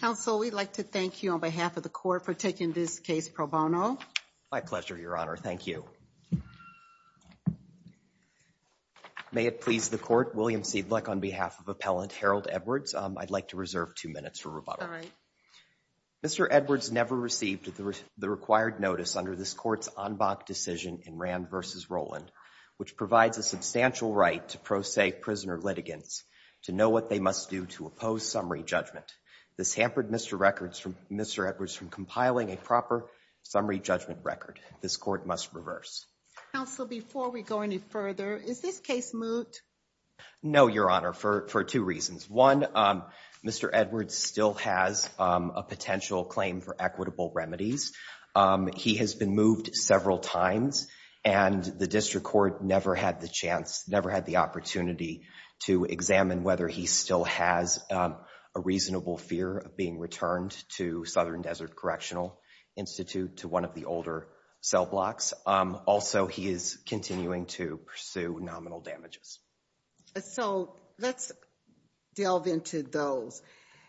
Counsel, we'd like to thank you on behalf of the Court for taking this case pro bono. My pleasure, Your Honor. Thank you. May it please the Court, William Siedleck on behalf of Appellant Harold Edwards, I'd like to reserve two minutes for rebuttal. All right. Mr. Edwards never received the required notice under this Court's en banc decision in Rand v. Roland, which provides a substantial right to pro se prisoner litigants to know what they must do to oppose summary judgment. This hampered Mr. Records from Mr. Edwards from compiling a proper summary judgment record. This Court must reverse. Counsel, before we go any further, is this case moot? No, Your Honor, for two reasons. One, Mr. Edwards still has a potential claim for equitable remedies. He has been moved several times and the district court never had the chance, never had the opportunity to examine whether he still has a reasonable fear of being returned to Southern Desert Correctional Institute, to one of the older cell blocks. Also, he is continuing to pursue nominal damages. So, let's delve into those.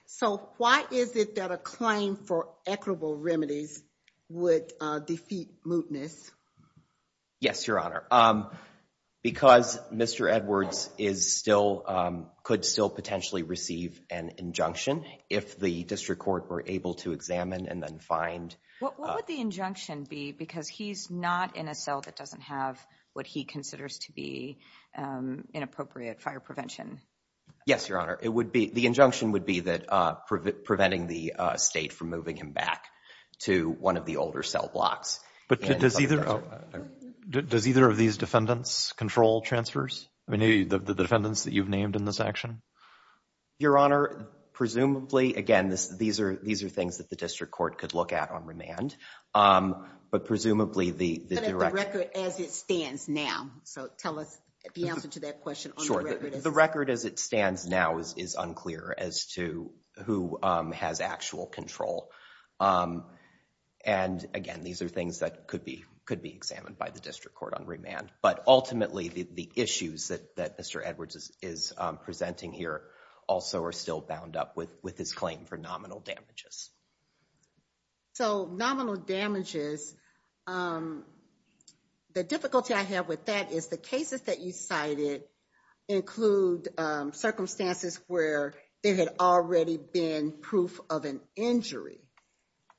So, why is it that a claim for equitable remedies would defeat mootness? Yes, Your Honor. Because Mr. Edwards could still potentially receive an injunction if the district court were able to examine and then find. What would the injunction be? Because he's not in a cell that doesn't have what he considers to be inappropriate fire prevention. Yes, Your Honor. It would be, the injunction would be that preventing the state from moving him back to one of the older cell blocks. But does either of these defendants control transfers? I mean, the defendants that you've named in this action? Your Honor, presumably, again, these are things that the district court could look at on remand. But presumably, the direction. The record as it stands now. So, tell us the answer to that question on the record. The record as it stands now is unclear as to who has actual control. And again, these are things that could be examined by the district court on remand. But ultimately, the issues that Mr. Edwards is presenting here also are still bound up with his claim for nominal damages. So, nominal damages. The difficulty I have with that is the cases that you cited include circumstances where there had already been proof of an injury.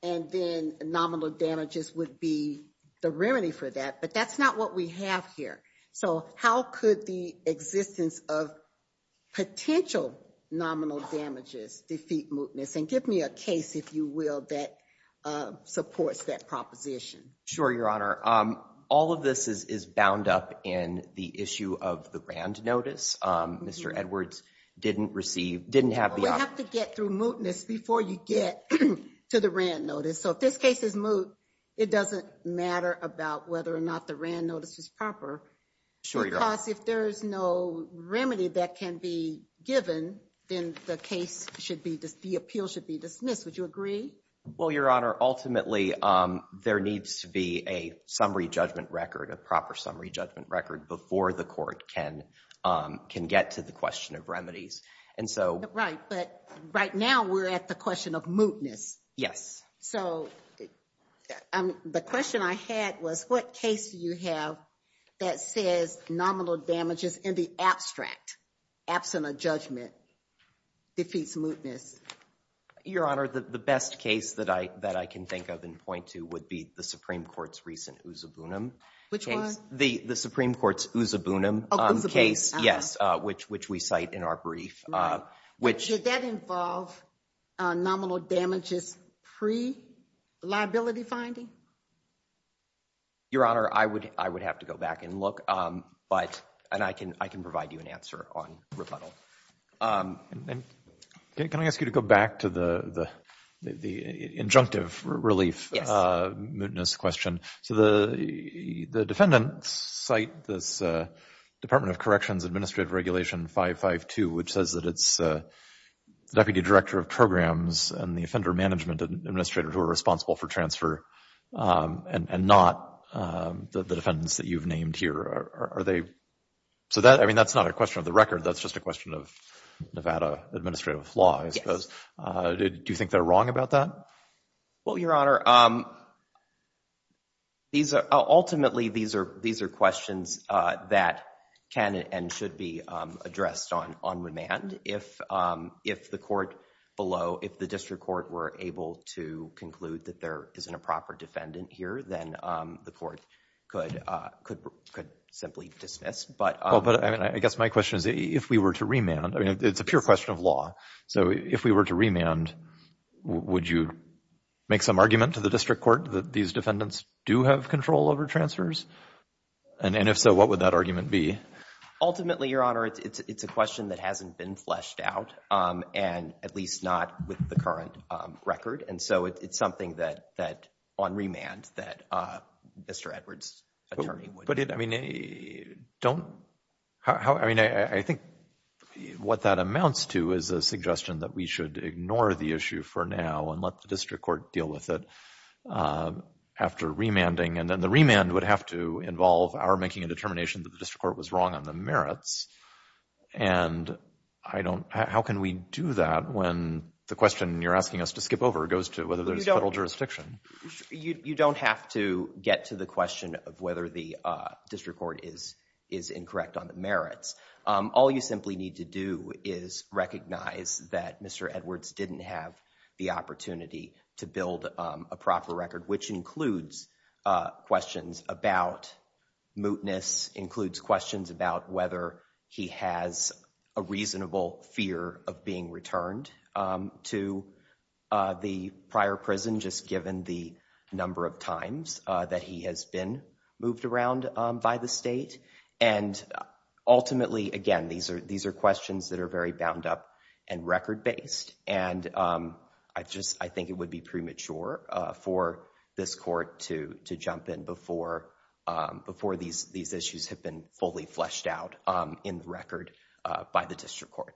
And then nominal damages would be the remedy for that. But that's not what we have here. So, how could the existence of potential nominal damages defeat mootness? And give me a case, if you will, that supports that proposition. Sure, Your Honor. All of this is bound up in the issue of the rand notice. Mr. Edwards didn't receive, didn't have the opportunity. We have to get through mootness before you get to the rand notice. So, if this case is moot, it doesn't matter about whether or not the rand notice is proper. Sure, Your Honor. Because if there's no remedy that can be given, then the case should be, the appeal should be dismissed. Would you agree? Well, Your Honor, ultimately, there needs to be a summary judgment record, a proper summary judgment record, before the court can get to the question of remedies. Right. But right now, we're at the question of mootness. Yes. So, the question I had was, what case do you have that says nominal damages in the abstract, absent a judgment, defeats mootness? Your Honor, the best case that I can think of and point to would be the Supreme Court's recent Usaboonim case. Which one? The Supreme Court's Usaboonim case. Yes, which we cite in our brief. Did that involve nominal damages pre-liability finding? Your Honor, I would have to go back and look, and I can provide you an answer on rebuttal. Can I ask you to go back to the injunctive relief mootness question? So, the defendants cite this Department of Corrections Administrative Regulation 552, which says that it's the Deputy Director of Programs and the Offender Management Administrator who are responsible for transfer, and not the defendants that you've named here. Are they, so that, I mean, that's not a question of the record. That's just a question of Nevada administrative law, I suppose. Do you think they're wrong about that? Well, Your Honor, these are, ultimately, these are questions that can and should be addressed on remand. If the court below, if the district court were able to conclude that there isn't a proper defendant here, then the court could simply dismiss. But I guess my question is, if we were to remand, I mean, it's a pure question of law. So, if we were to remand, would you make some argument to the district court that these defendants do have control over transfers? And if so, what would that argument be? Ultimately, Your Honor, it's a question that hasn't been fleshed out, and at least not with the current record. And so, it's something that, on remand, that Mr. Edwards' attorney would. But, I mean, don't, I mean, I think what that amounts to is a suggestion that we should ignore the issue for now and let the district court deal with it after remanding. And then the remand would have to involve our making a determination that the district court was wrong on the merits. And I don't, how can we do that when the question you're asking us to skip over goes to whether there's federal jurisdiction? You don't have to get to the question of whether the district court is incorrect on the merits. All you simply need to do is recognize that Mr. Edwards didn't have the opportunity to build a proper record, which includes questions about mootness, includes questions about whether he has a reasonable fear of being returned to the prior prison, just given the number of times that he has been moved around by the state. And ultimately, again, these are questions that are very bound up and record-based. And I just, I think it would be premature for this court to jump in before these issues have been fully fleshed out in the record by the district court.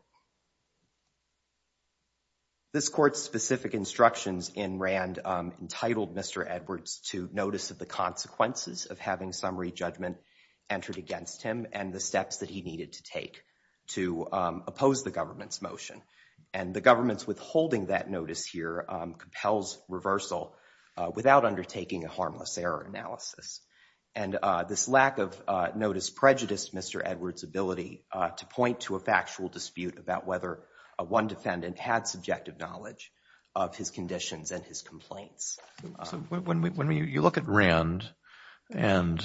This court's specific instructions in Rand entitled Mr. Edwards to notice of the consequences of having summary judgment entered against him and the steps that he needed to take to oppose the government's motion. And the government's withholding that notice here compels reversal without undertaking a harmless error analysis. And this lack of notice prejudiced Mr. Edwards' ability to point to a factual dispute about whether one defendant had subjective knowledge of his conditions and his complaints. When you look at Rand, and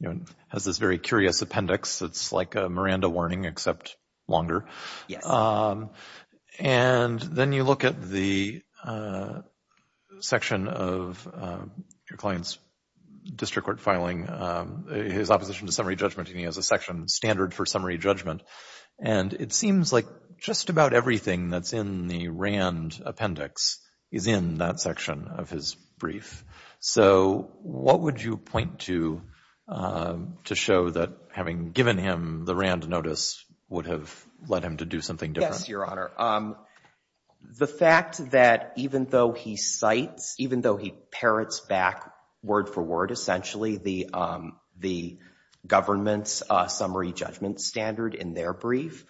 it has this very curious appendix that's like a Miranda warning except longer. And then you look at the section of your client's district court filing, his opposition to summary judgment, and he has a section standard for summary judgment. And it seems like just about everything that's in the Rand appendix is in that section of his brief. So what would you point to to show that having given him the Rand notice would have led him to do something different? Yes, Your Honor. The fact that even though he cites, even though he parrots back word for word essentially the government's summary judgment standard in their brief,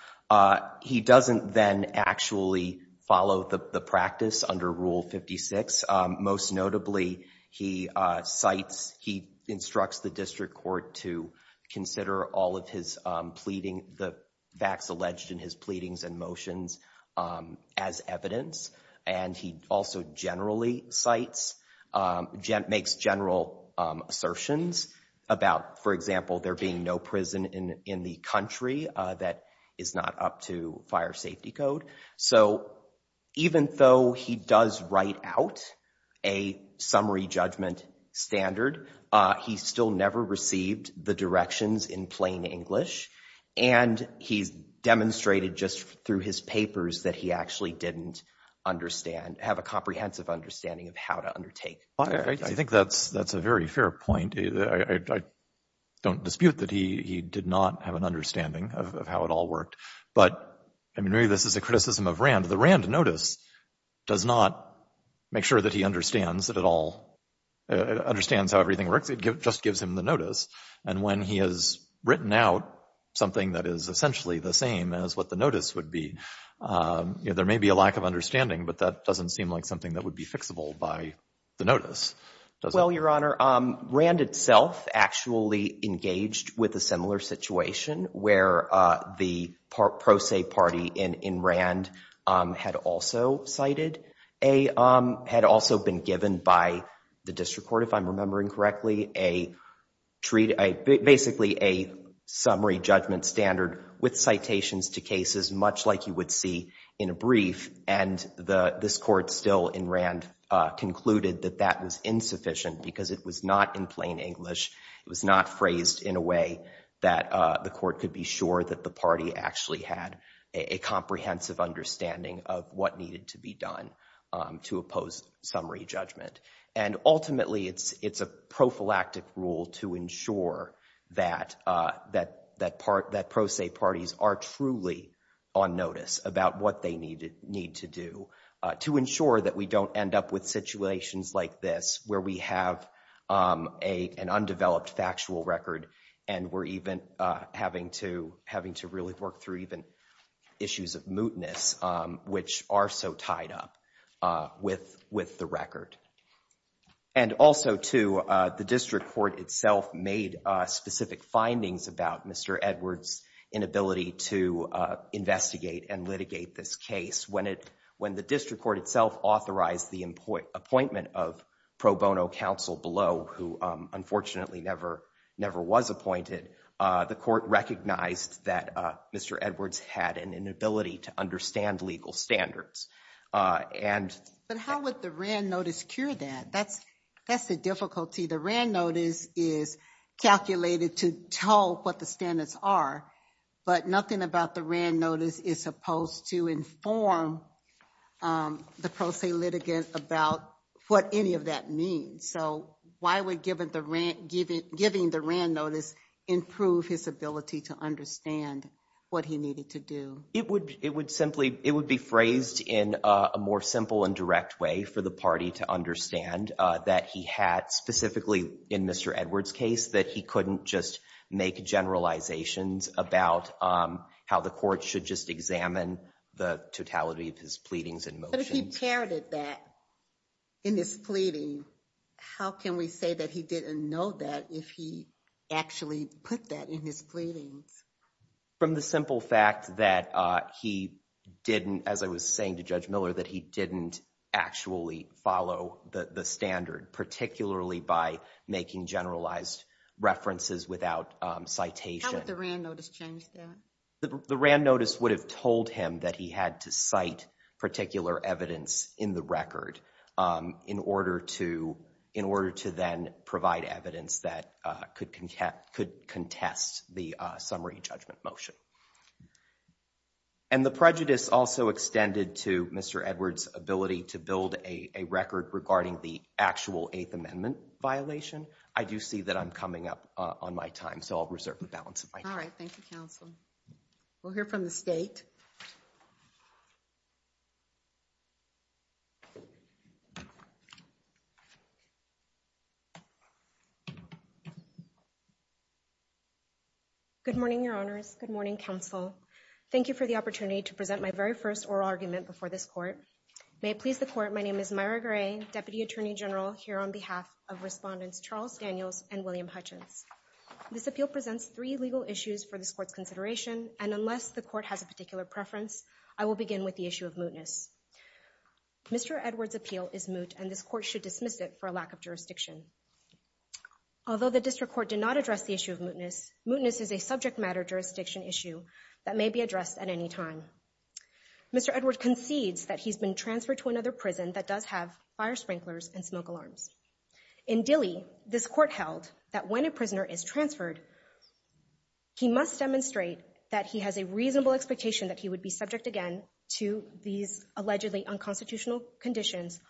he doesn't then actually follow the practice under Rule 56. Most notably, he cites, he instructs the district court to consider all of his pleading, the facts alleged in his pleadings and motions as evidence. And he also generally cites, makes general assertions about, for example, there being no prison in the country that is not up to fire safety code. So even though he does write out a summary judgment standard, he still never received the directions in plain English. And he's demonstrated just through his papers that he actually didn't understand, have a comprehensive understanding of how to undertake. I think that's a very fair point. I don't dispute that he did not have an understanding of how it all worked. But, I mean, maybe this is a criticism of Rand. The Rand notice does not make sure that he understands that it all, understands how everything works. It just gives him the notice. And when he has written out something that is essentially the same as what the notice would be, there may be a lack of understanding, but that doesn't seem like something that would be fixable by the notice. Well, Your Honor, Rand itself actually engaged with a similar situation where the pro se party in Rand had also cited, had also been given by the district court, if I'm remembering correctly, basically a summary judgment standard with citations to cases much like you would see in a brief. And this court still in Rand concluded that that was insufficient because it was not in plain English. It was not phrased in a way that the court could be sure that the party actually had a comprehensive understanding of what needed to be done to oppose summary judgment. And ultimately, it's a prophylactic rule to ensure that pro se parties are truly on notice about what they need to do to ensure that we don't end up with situations like this where we have an undeveloped factual record and we're even having to really work through even issues of mootness, which are so tied up with the record. And also, too, the district court itself made specific findings about Mr. Edwards' inability to investigate and litigate this case. When the district court itself authorized the appointment of pro bono counsel below, who unfortunately never was appointed, the court recognized that Mr. Edwards had an inability to understand legal standards. But how would the Rand notice cure that? That's the difficulty. The Rand notice is calculated to tell what the standards are, but nothing about the Rand notice is supposed to inform the pro se litigant about what any of that means. So why would giving the Rand notice improve his ability to understand what he needed to do? It would be phrased in a more simple and direct way for the party to understand that he had, specifically in Mr. Edwards' case, that he couldn't just make generalizations about how the court should just examine the totality of his pleadings in motion. But if he parroted that in his pleading, how can we say that he didn't know that if he actually put that in his pleadings? From the simple fact that he didn't, as I was saying to Judge Miller, that he didn't actually follow the standard, particularly by making generalized references without citation. How would the Rand notice change that? The Rand notice would have told him that he had to cite particular evidence in the record in order to, in order to then provide evidence that could contest the summary judgment motion. And the prejudice also extended to Mr. Edwards' ability to build a record regarding the actual Eighth Amendment violation. I do see that I'm coming up on my time, so I'll reserve the balance of my time. All right, thank you, Counsel. We'll hear from the state. Good morning, Your Honors. Good morning, Counsel. Thank you for the opportunity to present my very first oral argument before this court. May it please the court, my name is Myra Gray, Deputy Attorney General, here on behalf of Respondents Charles Daniels and William Hutchins. This appeal presents three legal issues for this court's consideration, and unless the court has a particular preference, I will begin with the issue of mootness. Mr. Edwards' appeal is moot, and this court should dismiss it for a lack of jurisdiction. Although the district court did not address the issue of mootness, mootness is a subject matter jurisdiction issue that may be addressed at any time. Mr. Edwards concedes that he's been transferred to another prison that does have fire sprinklers and smoke alarms. In Dilley, this court held that when a prisoner is transferred, he must demonstrate that he has a reasonable expectation that he would be subject again to these allegedly unconstitutional conditions.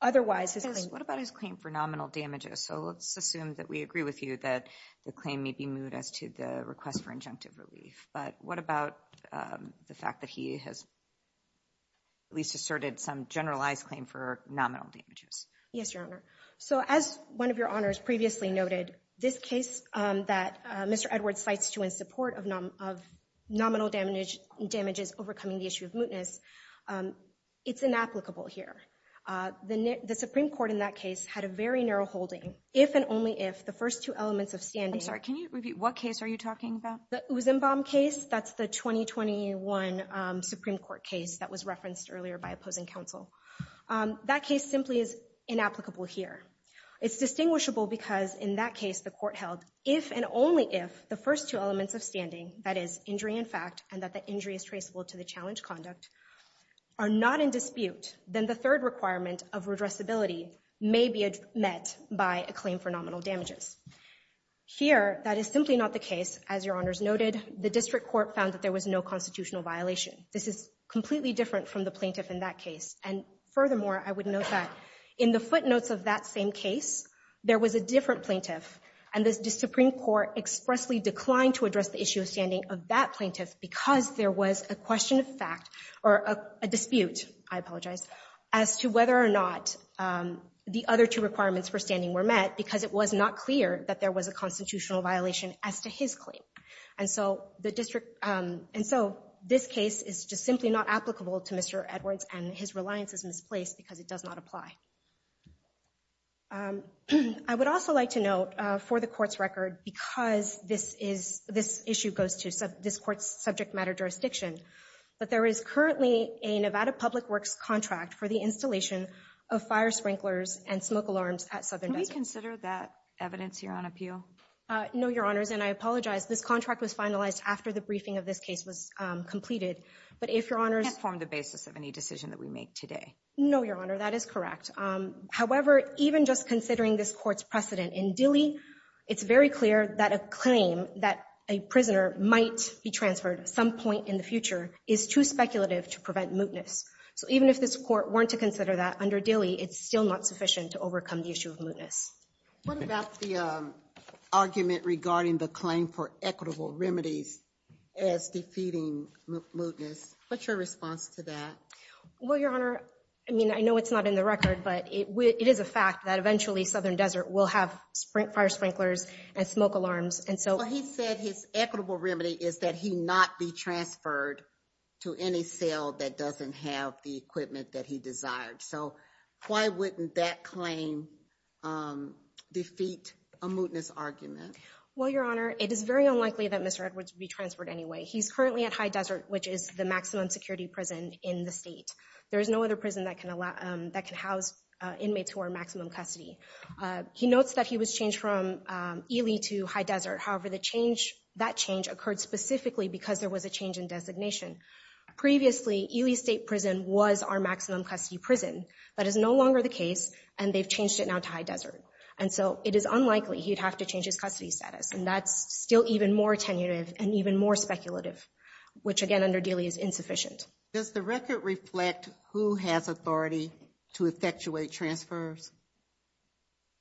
Otherwise, his claim- What about his claim for nominal damages? So let's assume that we agree with you that the claim may be moot as to the request for injunctive relief. But what about the fact that he has at least asserted some generalized claim for nominal damages? Yes, Your Honor. So as one of your honors previously noted, this case that Mr. Edwards cites to in support of nominal damages overcoming the issue of mootness, it's inapplicable here. The Supreme Court in that case had a very narrow holding, if and only if the first two elements of standing- I'm sorry, can you repeat? What case are you talking about? The Usenbaum case. That's the 2021 Supreme Court case that was referenced earlier by opposing counsel. That case simply is inapplicable here. It's distinguishable because in that case, the court held if and only if the first two elements of standing- that is, injury in fact, and that the injury is traceable to the challenge conduct- are not in dispute, then the third requirement of redressability may be met by a claim for nominal damages. Here, that is simply not the case. As your honors noted, the district court found that there was no constitutional violation. This is completely different from the plaintiff in that case. And furthermore, I would note that in the footnotes of that same case, there was a different plaintiff, and the Supreme Court expressly declined to address the issue of standing of that plaintiff because there was a question of fact- or a dispute, I apologize- as to whether or not the other two requirements for standing were met because it was not clear that there was a constitutional violation as to his claim. And so this case is just simply not applicable to Mr. Edwards, and his reliance is misplaced because it does not apply. I would also like to note for the court's record, because this issue goes to this court's subject matter jurisdiction, that there is currently a Nevada Public Works contract for the installation of fire sprinklers and smoke alarms at Southern Desert. Can we consider that evidence here on appeal? No, your honors, and I apologize. This contract was finalized after the briefing of this case was completed. But if your honors- It formed the basis of any decision that we make today. No, your honor, that is correct. However, even just considering this court's precedent in Dilley, it's very clear that a claim that a prisoner might be transferred at some point in the future is too speculative to prevent mootness. So even if this court were to consider that under Dilley, it's still not sufficient to overcome the issue of mootness. What about the argument regarding the claim for equitable remedies as defeating mootness? What's your response to that? Well, your honor, I mean, I know it's not in the record, but it is a fact that eventually Southern Desert will have fire sprinklers and smoke alarms, and so- Well, he said his equitable remedy is that he not be transferred to any cell that doesn't have the equipment that he desired. So why wouldn't that claim defeat a mootness argument? Well, your honor, it is very unlikely that Mr. Edwards would be transferred anyway. He's currently at High Desert, which is the maximum security prison in the state. There is no other prison that can house inmates who are maximum custody. He notes that he was changed from Ely to High Desert. However, that change occurred specifically because there was a change in designation. Previously, Ely State Prison was our maximum custody prison. That is no longer the case, and they've changed it now to High Desert. And so it is unlikely he'd have to change his custody status. And that's still even more tentative and even more speculative, which, again, under Dilley is insufficient. Does the record reflect who has authority to effectuate transfers?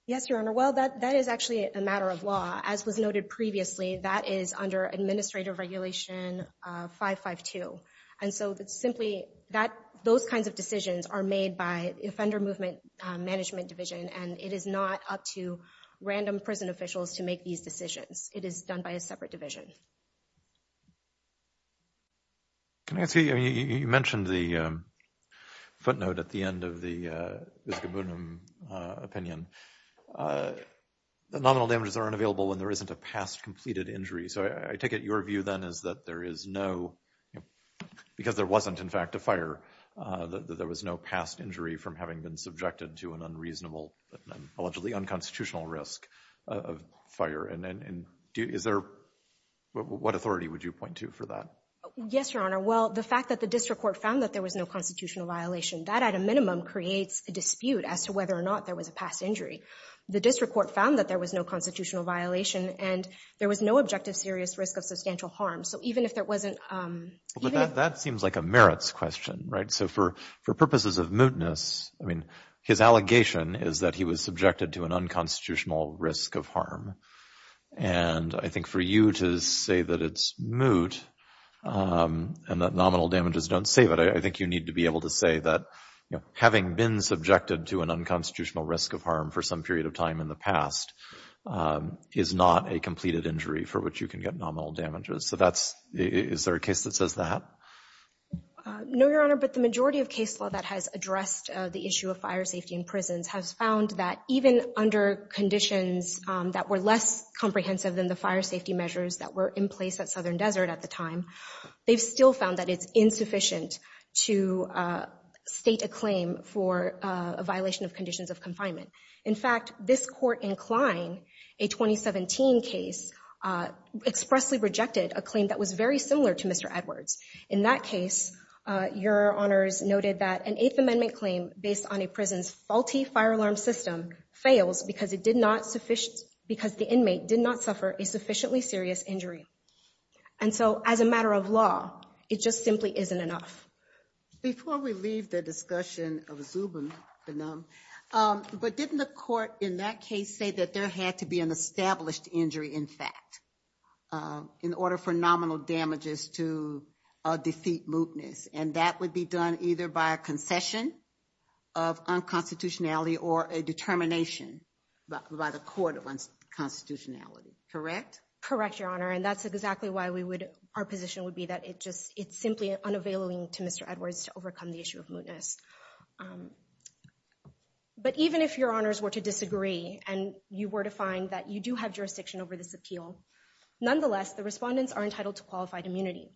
Yes, your honor. Well, that is actually a matter of law. As was noted previously, that is under Administrative Regulation 552. And so it's simply that those kinds of decisions are made by Offender Movement Management Division, and it is not up to random prison officials to make these decisions. It is done by a separate division. Nancy, you mentioned the footnote at the end of the Iskobunum opinion. The nominal damages are unavailable when there isn't a past completed injury. So I take it your view then is that there is no, because there wasn't, in fact, a fire, that there was no past injury from having been subjected to an unreasonable, allegedly unconstitutional risk of fire. And is there, what authority would you point to for that? Yes, your honor. Well, the fact that the district court found that there was no constitutional violation, that at a minimum creates a dispute as to whether or not there was a past injury. The district court found that there was no constitutional violation and there was no objective serious risk of substantial harm. So even if there wasn't. That seems like a merits question, right? So for purposes of mootness, I mean, his allegation is that he was subjected to an unconstitutional risk of harm. And I think for you to say that it's moot and that nominal damages don't save it, I think you need to be able to say that, you know, having been subjected to an unconstitutional risk of harm for some period of time in the past is not a completed injury for which you can get nominal damages. So that's, is there a case that says that? No, your honor. But the majority of case law that has addressed the issue of fire safety in prisons has found that even under conditions that were less comprehensive than the fire safety measures that were in place at Southern Desert at the time, they've still found that it's insufficient to state a claim for a violation of conditions of confinement. In fact, this court in Klein, a 2017 case, expressly rejected a claim that was very similar to Mr. Edwards. In that case, your honors noted that an Eighth Amendment claim based on a prison's faulty fire alarm system fails because it did not sufficient, because the inmate did not suffer a sufficiently serious injury. And so as a matter of law, it just simply isn't enough. Before we leave the discussion of Zubin, but didn't the court in that case say that there had to be an established injury, in fact, in order for nominal damages to defeat mootness? And that would be done either by a concession of unconstitutionality or a determination by the court of unconstitutionality, correct? Correct, your honor. And that's exactly why we would, our position would be that it just, it's simply unavailing to Mr. Edwards to overcome the issue of mootness. But even if your honors were to disagree, and you were to find that you do have jurisdiction over this appeal, nonetheless, the respondents are entitled to qualified immunity.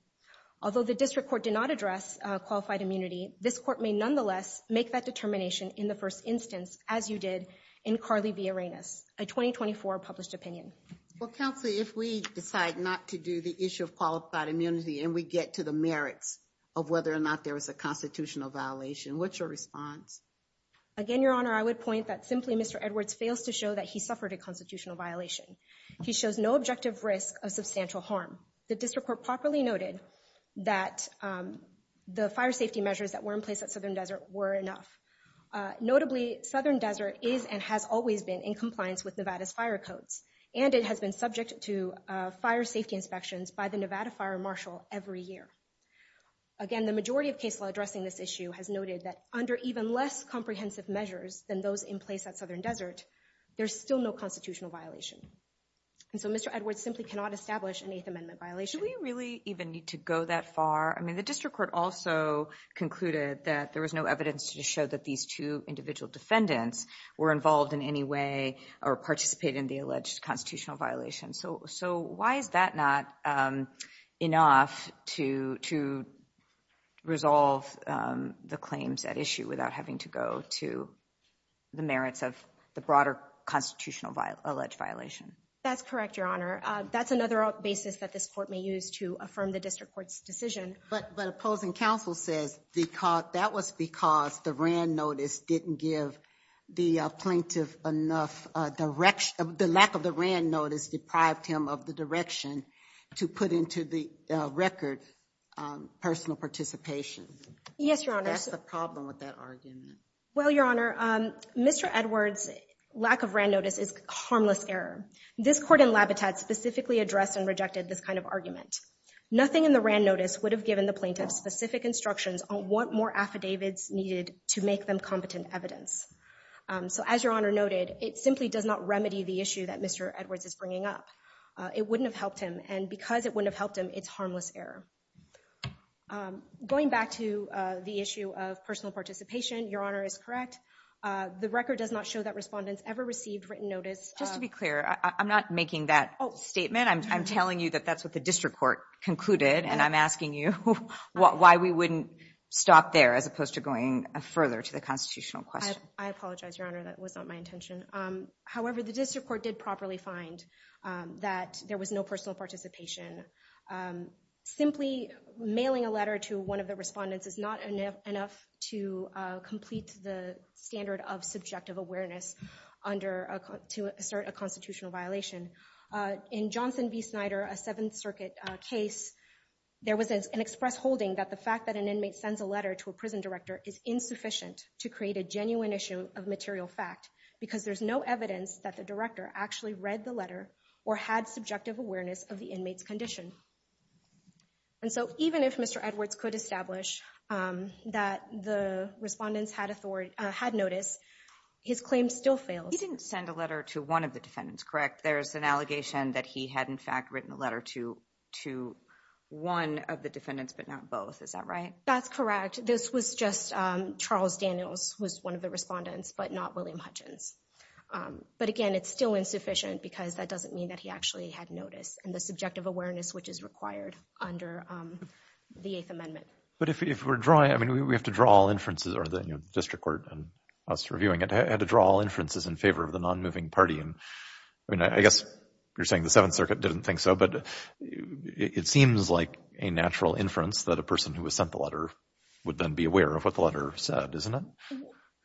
Although the district court did not address qualified immunity, this court may nonetheless make that determination in the first instance, as you did in Carly Villarenas, a 2024 published opinion. Well, counsel, if we decide not to do the issue of qualified immunity and we get to the merits of whether or not there was a constitutional violation, what's your response? Again, your honor, I would point that simply Mr. Edwards fails to show that he suffered a constitutional violation. He shows no objective risk of substantial harm. The district court properly noted that the fire safety measures that were in place at Southern Desert were enough. Notably, Southern Desert is and has always been in compliance with Nevada's fire codes, and it has been subject to fire safety inspections by the Nevada Fire Marshal every year. Again, the majority of case law addressing this issue has noted that under even less comprehensive measures than those in place at Southern Desert, there's still no constitutional violation. And so Mr. Edwards simply cannot establish an Eighth Amendment violation. Do we really even need to go that far? I mean, the district court also concluded that there was no evidence to show that these two individual defendants were involved in any way or participated in the alleged constitutional violation. So, so why is that not enough to, to resolve the claims at issue without having to go to the merits of the broader constitutional alleged violation? That's correct, your honor. That's another basis that this court may use to affirm the district court's decision. But, but opposing counsel says, because that was because the Rand notice didn't give the plaintiff enough direction, the lack of the Rand notice deprived him of the direction to put into the record personal participation. Yes, your honor. That's the problem with that argument. Well, your honor, Mr. Edwards' lack of Rand notice is harmless error. This court in Labitat specifically addressed and rejected this kind of Nothing in the Rand notice would have given the plaintiff specific instructions on what more affidavits needed to make them competent evidence. So as your honor noted, it simply does not remedy the issue that Mr. Edwards is bringing up. It wouldn't have helped him and because it wouldn't have helped him, it's harmless error. Going back to the issue of personal participation, your honor is correct. The record does not show that respondents ever received written notice. Just to be clear. I'm not making that statement. I'm telling you that that's what the district court concluded. And I'm asking you why we wouldn't stop there as opposed to going further to the constitutional question. I apologize, your honor. That was not my intention. However, the district court did properly find that there was no personal participation. Simply mailing a letter to one of the respondents is not enough to complete the standard of subjective awareness to assert a constitutional violation. In Johnson v. Snyder, a Seventh Circuit case, there was an express holding that the fact that an inmate sends a letter to a defendant is a fact because there's no evidence that the director actually read the letter or had subjective awareness of the inmates condition. And so even if Mr. Edwards could establish that the respondents had authority, had notice, his claim still fails. He didn't send a letter to one of the defendants, correct? There's an allegation that he had in fact written a letter to, to one of the defendants, but not both. Is that right? That's correct. This was just Charles Daniels was one of the respondents, but not William Hutchins. But again, it's still insufficient because that doesn't mean that he actually had notice and the subjective awareness, which is required under the Eighth Amendment. But if we're drawing, I mean, we have to draw all inferences, or the district court and us reviewing it had to draw all inferences in favor of the non-moving party. And I mean, I guess you're saying the Seventh Circuit didn't think so, but it seems like a natural inference that a person who has sent the letter would then be aware of what the letter said, isn't it?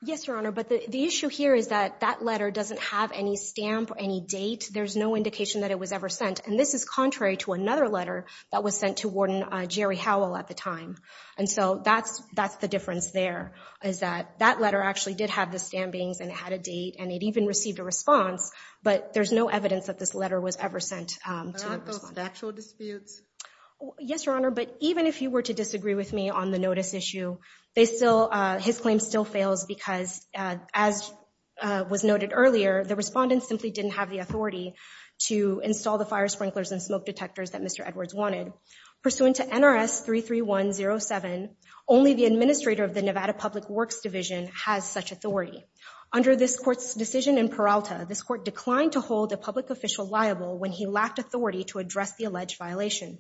Yes, Your Honor. But the issue here is that that letter doesn't have any stamp or any date. There's no indication that it was ever sent. And this is contrary to another letter that was sent to Warden Jerry Howell at the time. And so that's, that's the difference there, is that that letter actually did have the stampings and it had a date, and it even received a response, but there's no evidence that this letter was ever sent to the respondent. But aren't those factual disputes? Yes, Your Honor. But even if you were to disagree with me on the notice issue, they still, his claim still fails because, as was noted earlier, the respondent simply didn't have the authority to install the fire sprinklers and smoke detectors that Mr. Edwards wanted. Pursuant to NRS 33107, only the administrator of the Nevada Public Works Division has such authority. Under this court's decision in Peralta, this court declined to hold a public official liable when he lacked authority to address the alleged violation.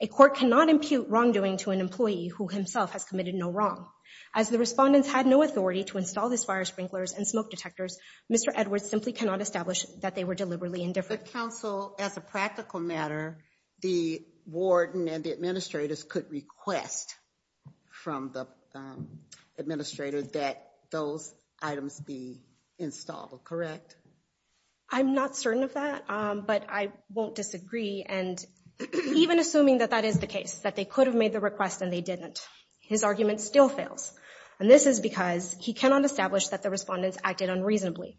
A court cannot impute wrongdoing to an employee who himself has committed no wrong. As the respondents had no authority to install this fire sprinklers and smoke detectors, Mr. Edwards simply cannot establish that they were deliberately indifferent. But counsel, as a practical matter, the warden and the administrators could request from the administrator that those items be installed, correct? I'm not certain of that, but I won't disagree. And even assuming that that is the case, that they could have made the request and they didn't, his argument still fails. And this is because he cannot establish that the respondents acted unreasonably.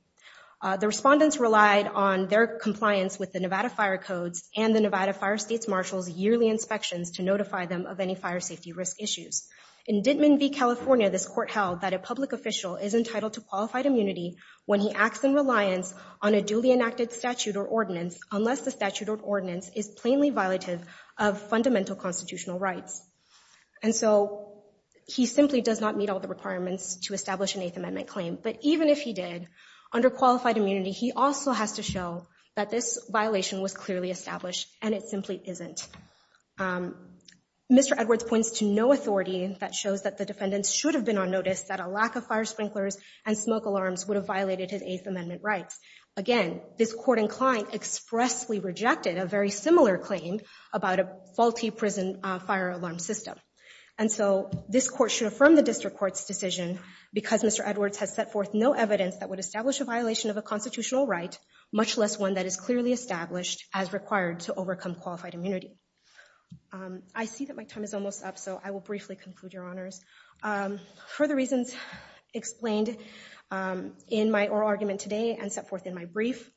The respondents relied on their compliance with the Nevada Fire Codes and the Nevada Fire States Marshal's yearly inspections to notify them of any fire safety risk issues. In Dittman v. this court held that a public official is entitled to qualified immunity when he acts in reliance on a duly enacted statute or ordinance, is plainly violative of fundamental constitutional rights. And so he simply does not meet all the requirements to establish an Eighth Amendment claim. But even if he did, under qualified immunity, he also has to show that this violation was clearly established and it simply isn't. Mr. Edwards points to no authority that shows that the defendants should have been on notice that a lack of fire sprinklers and smoke alarms would have violated his Eighth Amendment rights. Again, this court inclined expressly rejected a very similar claim about a faulty prison fire alarm system. And so this court should affirm the district court's decision because Mr. Edwards has set forth no evidence that would establish a violation of a constitutional right, much less one that is clearly established as required to overcome qualified immunity. I see that my time is almost up, so I will briefly conclude, Your Honors. For the reasons explained in my oral argument today and set forth in my brief,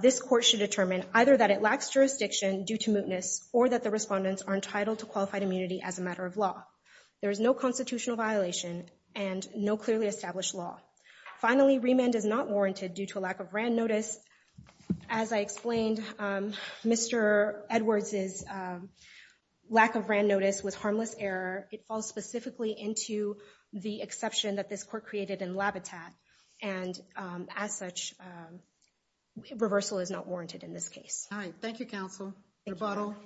this court should determine either that it lacks jurisdiction due to mootness, or that the respondents are entitled to qualified immunity as a matter of There is no constitutional violation and no clearly established law. Finally, remand is not warranted due to a lack of RAND notice. As I explained, Mr. Edwards' lack of RAND notice was harmless error. It falls specifically into the exception that this court created in Labitat. And as such, reversal is not warranted in this case. All right. Thank you, Counsel. Rebuttal.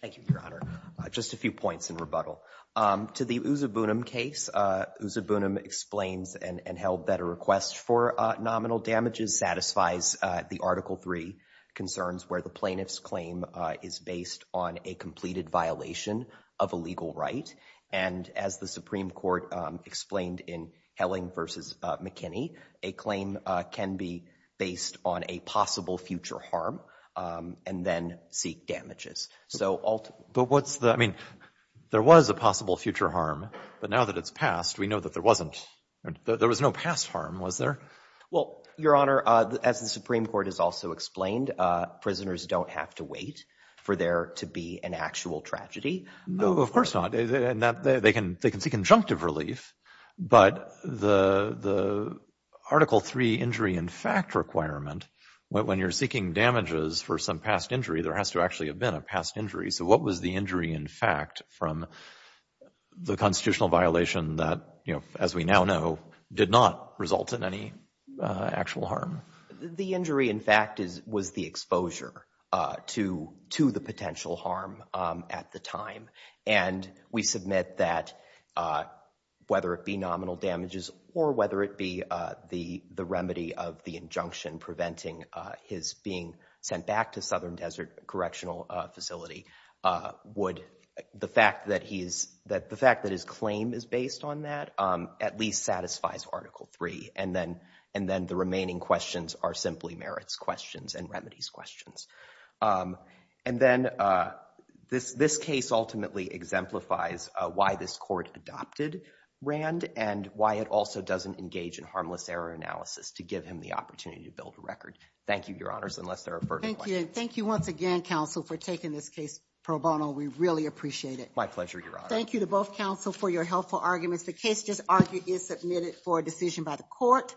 Thank you, Your Honor. Just a few points in rebuttal. To the Uzabunim case, Uzabunim explains and held that a request for nominal damages satisfies the Article III concerns where the plaintiff's claim is based on a completed violation of a legal right. And as the Supreme Court explained in Helling v. McKinney, a claim can be based on a possible future harm and then seek damages. But what's the, I mean, there was a possible future harm, but now that it's passed, we know that there wasn't, there was no past harm, was there? Well, Your Honor, as the Supreme Court has also explained, prisoners don't have to wait for there to be an actual tragedy. No, of course not. They can seek conjunctive relief, but the Article III injury in fact requirement, when you're seeking damages for some past injury, there has to actually have been a past injury. So what was the injury in fact from the constitutional violation that, you know, as we now know, did not result in any actual harm? The injury in fact was the exposure to the potential harm at the time. And we submit that whether it be nominal damages or whether it be the remedy of the injunction preventing his being sent back to Southern Desert Correctional Facility would, the fact that he is, the fact that his claim is based on that at least satisfies Article III. And then the remaining questions are simply merits questions and remedies questions. And then this case ultimately exemplifies why this court adopted RAND and why it also doesn't engage in harmless error analysis to give him the opportunity to build a record. Thank you, Your Honors, unless there are further questions. Thank you. Thank you once again, Counsel, for taking this case pro bono. We really appreciate it. My pleasure, Your Honor. Thank you to both counsel for your helpful arguments. The case just argued is submitted for a decision by the court.